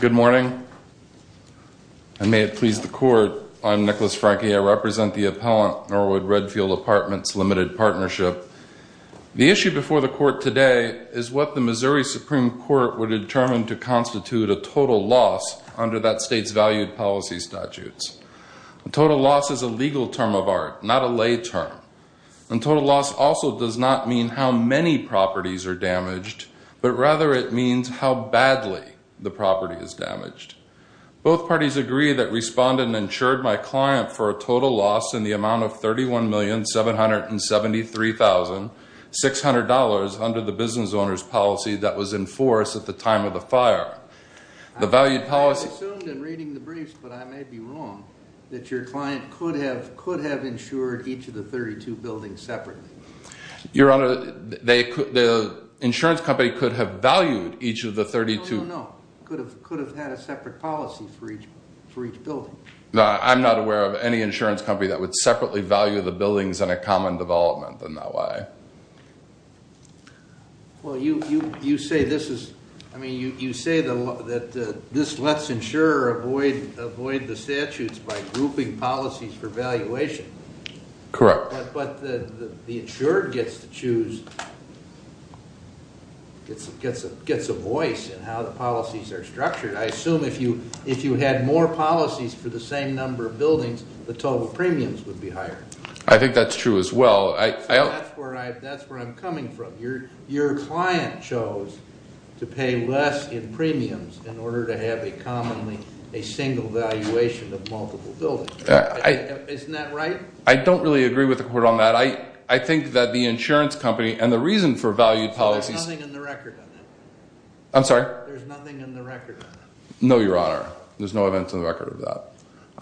Good morning. And may it please the Court, I'm Nicholas Franke. I represent the appellant Norwood-Redfield Apartments Limited Partnership. The issue before the Court today is what the Missouri Supreme Court would determine to constitute a total loss under that state's valued policy statutes. A total loss is a legal term of art, not a lay term. And total loss also does not mean how many properties are damaged, but rather it means how badly the property is damaged. Both parties agree that Respondent insured my client for a total loss in the amount of $31,773,600 under the business owner's policy that was in force at the time of the fire. I assumed in reading the briefs, but I may be wrong, that your client could have insured each of the 32 buildings separately. Your Honor, the insurance company could have valued each of the 32. No, no, no. Could have had a separate policy for each building. I'm not aware of any insurance company that would separately value the buildings in a common development in that way. Well, you say this is, I mean, you say that this lets insurer avoid the statutes by grouping policies for valuation. Correct. But the insured gets to choose, gets a voice in how the policies are structured. I assume if you had more policies for the same number of buildings, the total premiums would be higher. I think that's true as well. That's where I'm coming from. Your client chose to pay less in premiums in order to have a commonly, a single valuation of multiple buildings. Isn't that right? I don't really agree with the court on that. I think that the insurance company and the reason for value policies There's nothing in the record on that. I'm sorry? There's nothing in the record on that. No, Your Honor. There's no events in the record of that.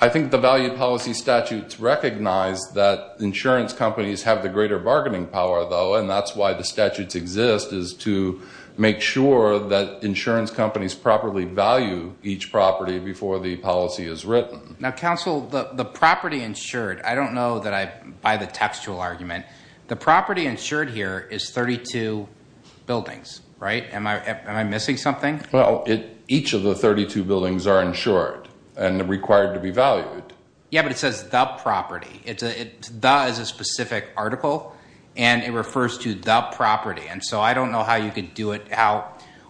I think the value policy statutes recognize that insurance companies have the greater bargaining power, though. And that's why the statutes exist, is to make sure that insurance companies properly value each property before the policy is written. Now, counsel, the property insured, I don't know that I buy the textual argument. The property insured here is 32 buildings, right? Am I missing something? Well, each of the 32 buildings are insured and required to be valued. Yeah, but it says the property. The is a specific article, and it refers to the property. And so I don't know how you could do it,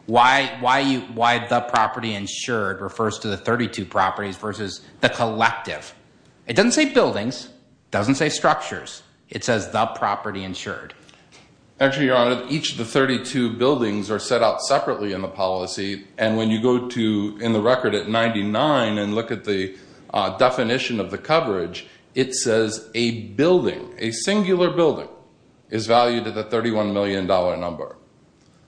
why the property insured refers to the 32 properties versus the collective. It doesn't say buildings. It doesn't say structures. It says the property insured. Actually, Your Honor, each of the 32 buildings are set out separately in the policy. And when you go to in the record at 99 and look at the definition of the coverage, it says a building, a singular building, is valued at a $31 million number.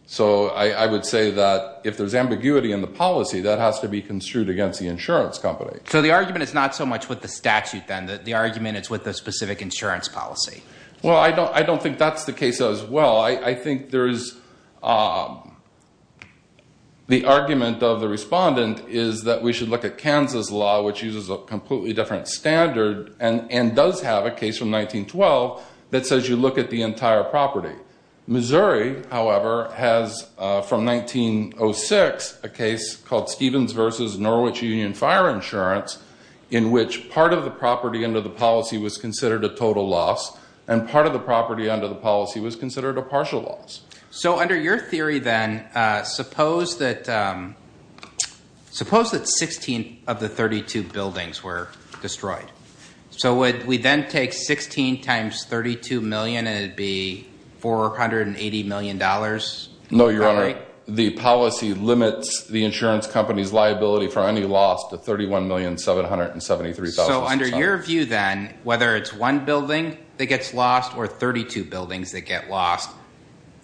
So I would say that if there's ambiguity in the policy, that has to be construed against the insurance company. So the argument is not so much with the statute, then. The argument is with the specific insurance policy. Well, I don't think that's the case as well. I think there is the argument of the respondent is that we should look at Kansas law, which uses a completely different standard and does have a case from 1912 that says you look at the entire property. Missouri, however, has from 1906 a case called Stevens v. Norwich Union Fire Insurance in which part of the property under the policy was considered a total loss and part of the property under the policy was considered a partial loss. So under your theory, then, suppose that 16 of the 32 buildings were destroyed. So would we then take 16 times $32 million and it would be $480 million? No, Your Honor. The policy limits the insurance company's liability for any loss to $31,773,000. So under your view, then, whether it's one building that gets lost or 32 buildings that get lost,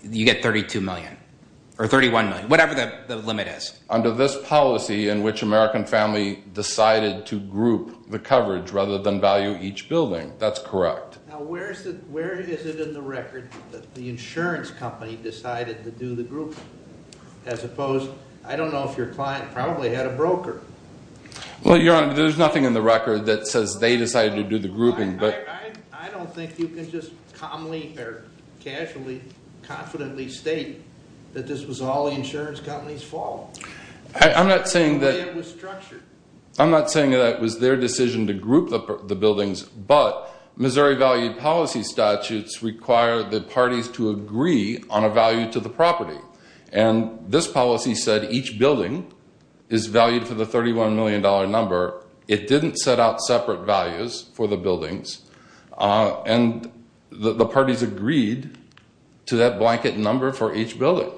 you get $32 million or $31 million, whatever the limit is. Under this policy in which American family decided to group the coverage rather than value each building. That's correct. Now, where is it in the record that the insurance company decided to do the grouping? As opposed, I don't know if your client probably had a broker. Well, Your Honor, there's nothing in the record that says they decided to do the grouping. I don't think you can just calmly or casually, confidently state that this was all the insurance company's fault. I'm not saying that it was their decision to group the buildings, but Missouri valued policy statutes require the parties to agree on a value to the property. And this policy said each building is valued for the $31 million number. It didn't set out separate values for the buildings. And the parties agreed to that blanket number for each building.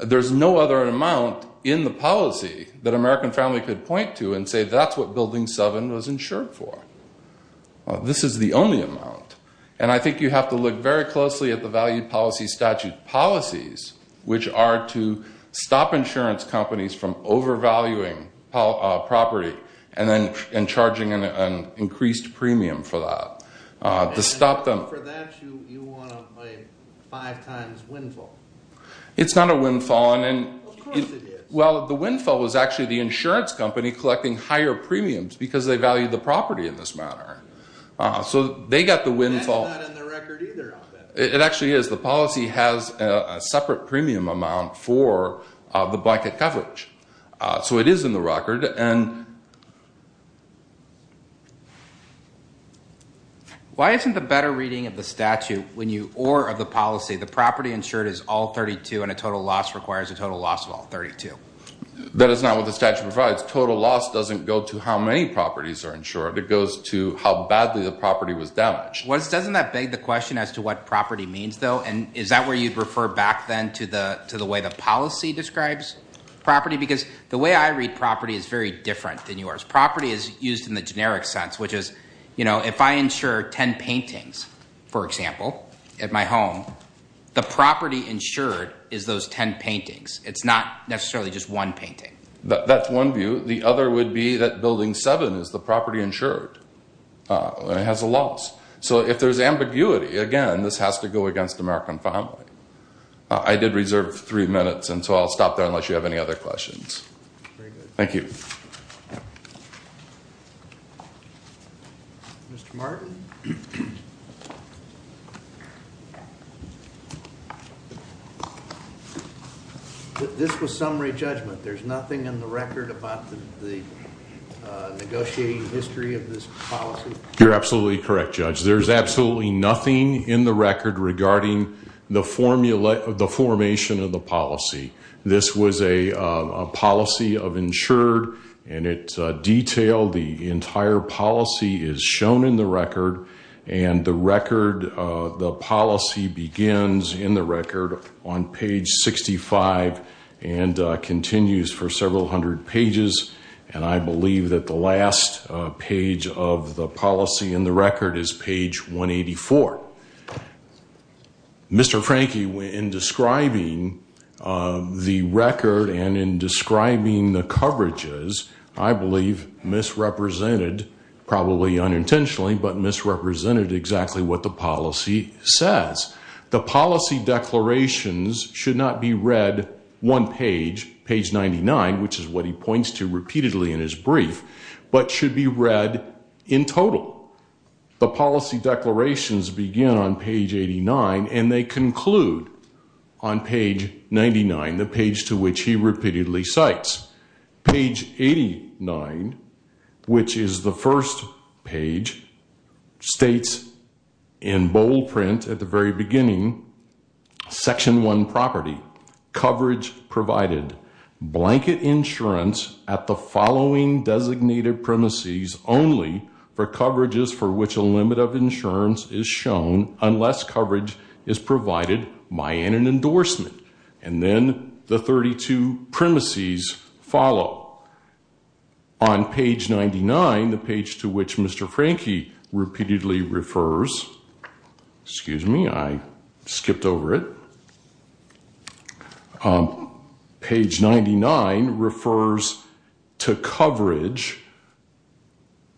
There's no other amount in the policy that American family could point to and say that's what Building 7 was insured for. This is the only amount. And I think you have to look very closely at the value policy statute policies, which are to stop insurance companies from overvaluing property and charging an increased premium for that. And for that, you want a five times windfall. It's not a windfall. Of course it is. Well, the windfall was actually the insurance company collecting higher premiums because they valued the property in this manner. So they got the windfall. That's not in the record either. It actually is. The policy has a separate premium amount for the blanket coverage. So it is in the record. Why isn't the better reading of the statute or of the policy, the property insured is all 32 and a total loss requires a total loss of all 32? That is not what the statute provides. Total loss doesn't go to how many properties are insured. It goes to how badly the property was damaged. Doesn't that beg the question as to what property means, though? And is that where you'd refer back then to the way the policy describes property? Because the way I read property is very different than yours. Property is used in the generic sense, which is, you know, if I insure 10 paintings, for example, at my home, the property insured is those 10 paintings. It's not necessarily just one painting. That's one view. The other would be that building 7 is the property insured. It has a loss. So if there's ambiguity, again, this has to go against American Family. I did reserve three minutes, and so I'll stop there unless you have any other questions. Thank you. Mr. Martin? This was summary judgment. There's nothing in the record about the negotiating history of this policy? You're absolutely correct, Judge. There's absolutely nothing in the record regarding the formation of the policy. This was a policy of insured, and it's detailed. The entire policy is shown in the record, and the record, the policy begins in the record on page 65 and continues for several hundred pages. And I believe that the last page of the policy in the record is page 184. Mr. Franke, in describing the record and in describing the coverages, I believe misrepresented, probably unintentionally, but misrepresented exactly what the policy says. The policy declarations should not be read one page, page 99, which is what he points to repeatedly in his brief, but should be read in total. The policy declarations begin on page 89, and they conclude on page 99, the page to which he repeatedly cites. Page 89, which is the first page, states in bold print at the very beginning, section one property, coverage provided. Blanket insurance at the following designated premises only for coverages for which a limit of insurance is shown unless coverage is provided by an endorsement. And then the 32 premises follow. On page 99, the page to which Mr. Franke repeatedly refers, excuse me, I skipped over it. Page 99 refers to coverage,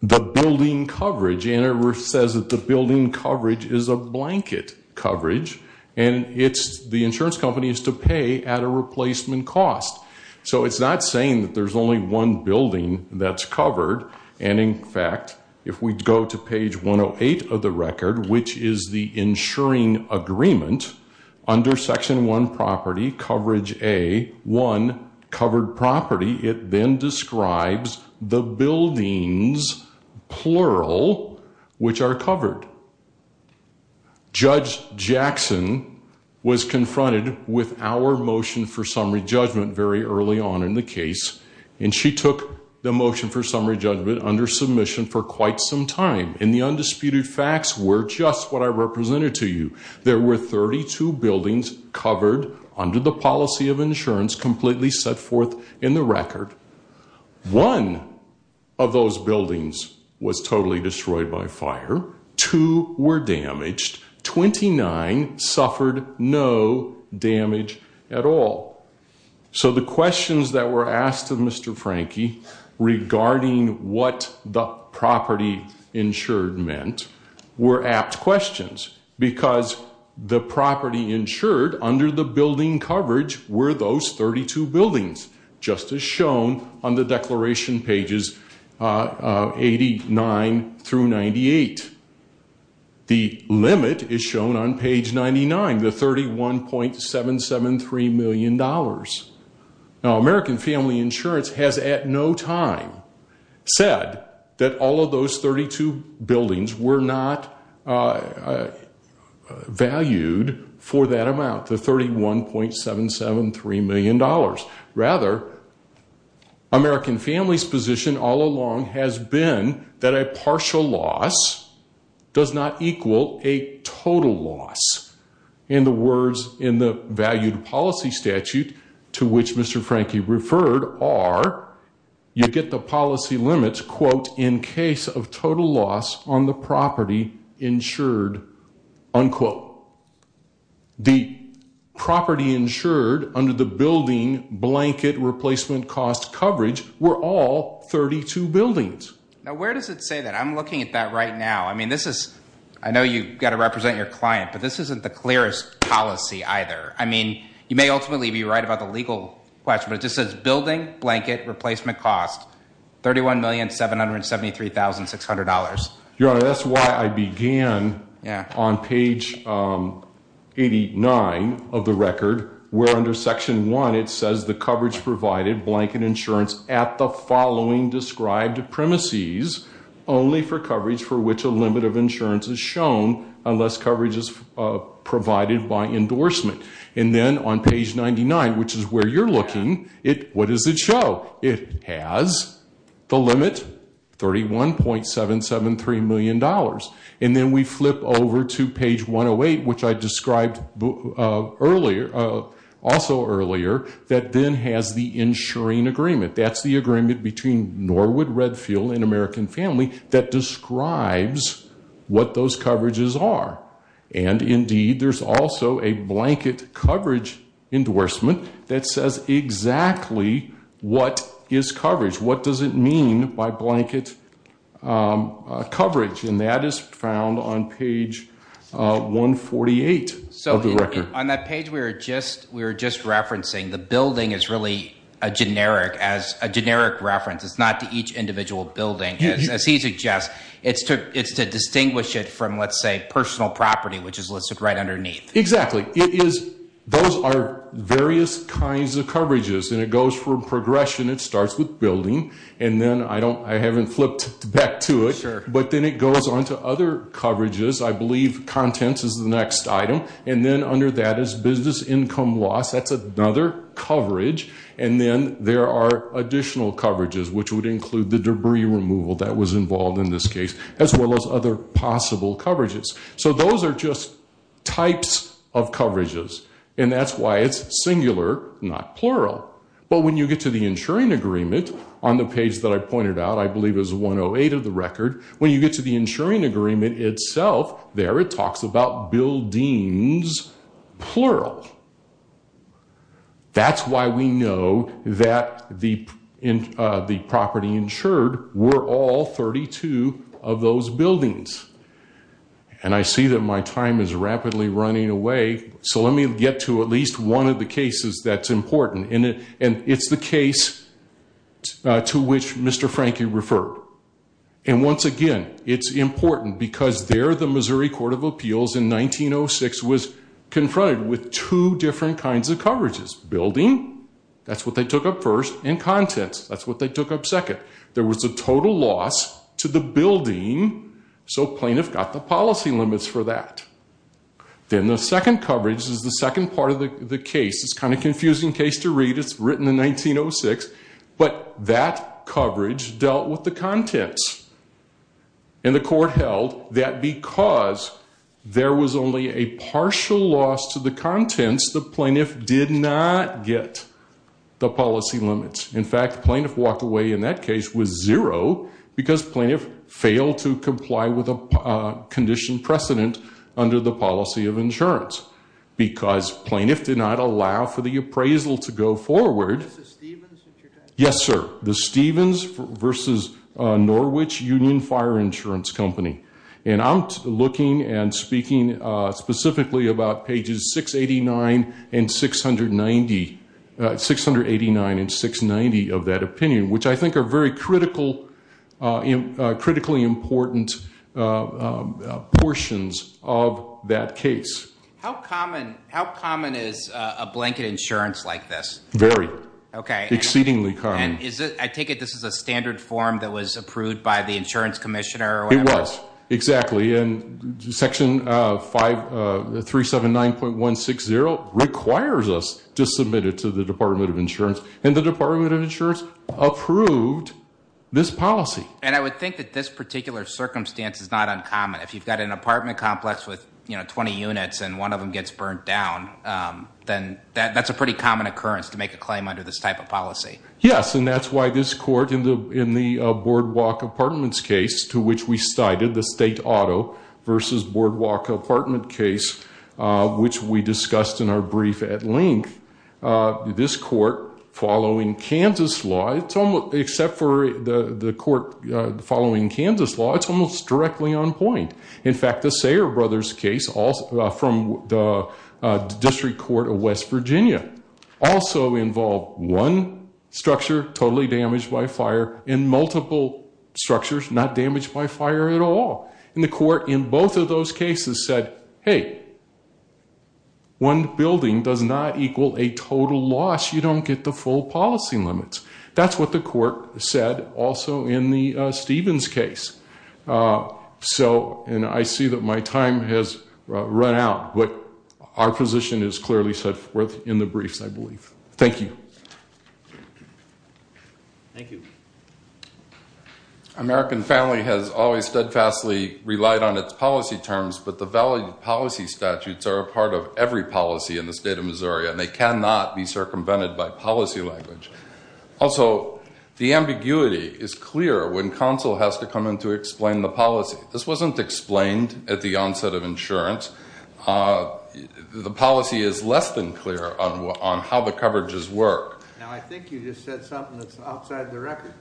the building coverage, and it says that the building coverage is a blanket coverage. And the insurance company is to pay at a replacement cost. So it's not saying that there's only one building that's covered. And in fact, if we go to page 108 of the record, which is the insuring agreement, under section one property, coverage A, one covered property, it then describes the buildings, plural, which are covered. Judge Jackson was confronted with our motion for summary judgment very early on in the case, and she took the motion for summary judgment under submission for quite some time. And the undisputed facts were just what I represented to you. There were 32 buildings covered under the policy of insurance completely set forth in the record. One of those buildings was totally destroyed by fire. Two were damaged. Twenty-nine suffered no damage at all. So the questions that were asked of Mr. Franke regarding what the property insured meant were apt questions. Because the property insured under the building coverage were those 32 buildings, just as shown on the declaration pages 89 through 98. The limit is shown on page 99, the $31.773 million. Now, American Family Insurance has at no time said that all of those 32 buildings were not valued for that amount, the $31.773 million. Rather, American Families' position all along has been that a partial loss does not equal a total loss. And the words in the valued policy statute to which Mr. Franke referred are, you get the policy limits, quote, in case of total loss on the property insured, unquote. The property insured under the building blanket replacement cost coverage were all 32 buildings. Now, where does it say that? I'm looking at that right now. I mean, this is – I know you've got to represent your client, but this isn't the clearest policy either. I mean, you may ultimately be right about the legal question, but it just says building blanket replacement cost, $31,773,600. Your Honor, that's why I began on page 89 of the record, where under section 1 it says the coverage provided blanket insurance at the following described premises, only for coverage for which a limit of insurance is shown unless coverage is provided by endorsement. And then on page 99, which is where you're looking, what does it show? It has the limit, $31.773 million. And then we flip over to page 108, which I described also earlier, that then has the insuring agreement. That's the agreement between Norwood Redfield and American Family that describes what those coverages are. And indeed, there's also a blanket coverage endorsement that says exactly what is coverage. What does it mean by blanket coverage? And that is found on page 148 of the record. So on that page we were just referencing, the building is really a generic reference. It's not to each individual building. As he suggests, it's to distinguish it from, let's say, personal property, which is listed right underneath. Exactly. Those are various kinds of coverages. And it goes from progression. It starts with building. And then I haven't flipped back to it, but then it goes on to other coverages. I believe contents is the next item. And then under that is business income loss. That's another coverage. And then there are additional coverages, which would include the debris removal that was involved in this case, as well as other possible coverages. So those are just types of coverages. And that's why it's singular, not plural. But when you get to the insuring agreement, on the page that I pointed out, I believe is 108 of the record, when you get to the insuring agreement itself there, it talks about buildings, plural. That's why we know that the property insured were all 32 of those buildings. And I see that my time is rapidly running away. So let me get to at least one of the cases that's important. And it's the case to which Mr. Franke referred. And once again, it's important because there the Missouri Court of Appeals in 1906 was confronted with two different kinds of coverages. Building, that's what they took up first, and contents, that's what they took up second. There was a total loss to the building, so plaintiff got the policy limits for that. Then the second coverage is the second part of the case. It's kind of a confusing case to read. It's written in 1906, but that coverage dealt with the contents. And the court held that because there was only a partial loss to the contents, the plaintiff did not get the policy limits. In fact, the plaintiff walked away in that case with zero because plaintiff failed to comply with a condition precedent under the policy of insurance. Because plaintiff did not allow for the appraisal to go forward. Yes, sir. The Stevens versus Norwich Union Fire Insurance Company. And I'm looking and speaking specifically about pages 689 and 690 of that opinion, which I think are very critically important portions of that case. How common is a blanket insurance like this? Very. Okay. Exceedingly common. And I take it this is a standard form that was approved by the insurance commissioner or whatever? It was exactly. And Section 379.160 requires us to submit it to the Department of Insurance. And the Department of Insurance approved this policy. And I would think that this particular circumstance is not uncommon. If you've got an apartment complex with 20 units and one of them gets burnt down, then that's a pretty common occurrence to make a claim under this type of policy. Yes. And that's why this court in the Boardwalk Apartments case to which we cited the state auto versus Boardwalk apartment case, which we discussed in our brief at length. This court following Kansas law, except for the court following Kansas law, it's almost directly on point. In fact, the Sayre Brothers case from the District Court of West Virginia also involved one structure totally damaged by fire and multiple structures not damaged by fire at all. And the court in both of those cases said, hey, one building does not equal a total loss. You don't get the full policy limits. That's what the court said also in the Stevens case. And I see that my time has run out, but our position is clearly set forth in the briefs, I believe. Thank you. Thank you. American family has always steadfastly relied on its policy terms, but the valid policy statutes are a part of every policy in the state of Missouri, and they cannot be circumvented by policy language. Also, the ambiguity is clear when counsel has to come in to explain the policy. This wasn't explained at the onset of insurance. The policy is less than clear on how the coverages work. Now, I think you just said something that's outside the record,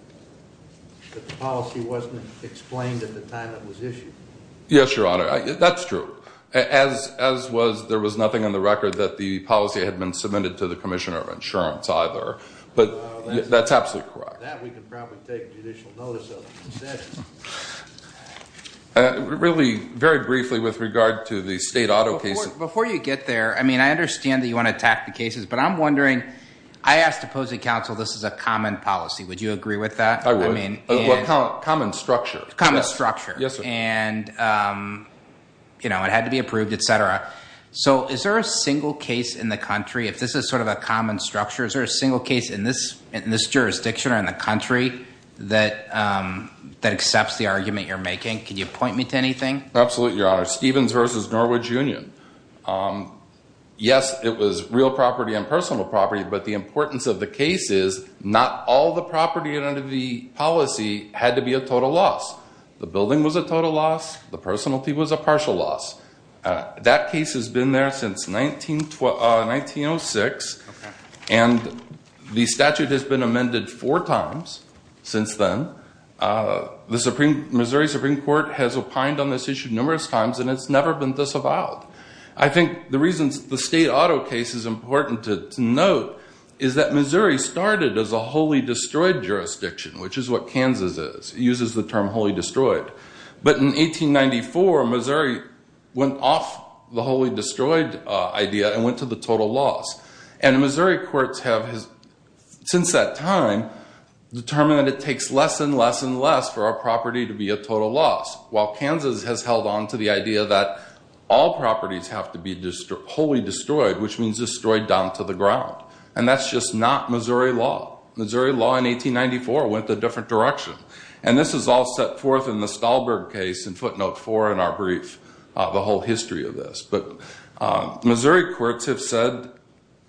that the policy wasn't explained at the time it was issued. Yes, Your Honor. That's true. As was, there was nothing on the record that the policy had been submitted to the Commissioner of Insurance either. But that's absolutely correct. That we can probably take judicial notice of. Really, very briefly with regard to the state auto case. Before you get there, I mean, I understand that you want to attack the cases, but I'm wondering, I asked opposing counsel, this is a common policy. Would you agree with that? I would. Common structure. Common structure. Yes, sir. You know, it had to be approved, etc. So, is there a single case in the country, if this is sort of a common structure, is there a single case in this jurisdiction or in the country that accepts the argument you're making? Can you point me to anything? Absolutely, Your Honor. Stevens v. Norwich Union. Yes, it was real property and personal property, but the importance of the case is not all the property under the policy had to be a total loss. The building was a total loss. The personality was a partial loss. That case has been there since 1906, and the statute has been amended four times since then. The Missouri Supreme Court has opined on this issue numerous times, and it's never been disavowed. I think the reason the state auto case is important to note is that Missouri started as a wholly destroyed jurisdiction, which is what Kansas is. It uses the term wholly destroyed. But in 1894, Missouri went off the wholly destroyed idea and went to the total loss. And Missouri courts have, since that time, determined that it takes less and less and less for a property to be a total loss. While Kansas has held on to the idea that all properties have to be wholly destroyed, which means destroyed down to the ground. And that's just not Missouri law. Missouri law in 1894 went the different direction. And this is all set forth in the Stahlberg case in footnote four in our brief, the whole history of this. But Missouri courts have said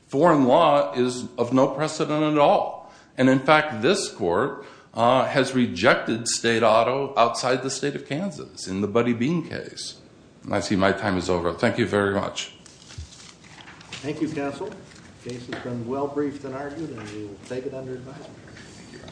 foreign law is of no precedent at all. And in fact, this court has rejected state auto outside the state of Kansas in the Buddy Bean case. And I see my time is over. Thank you very much. Thank you, counsel. The case has been well briefed and argued, and we will take it under advisory.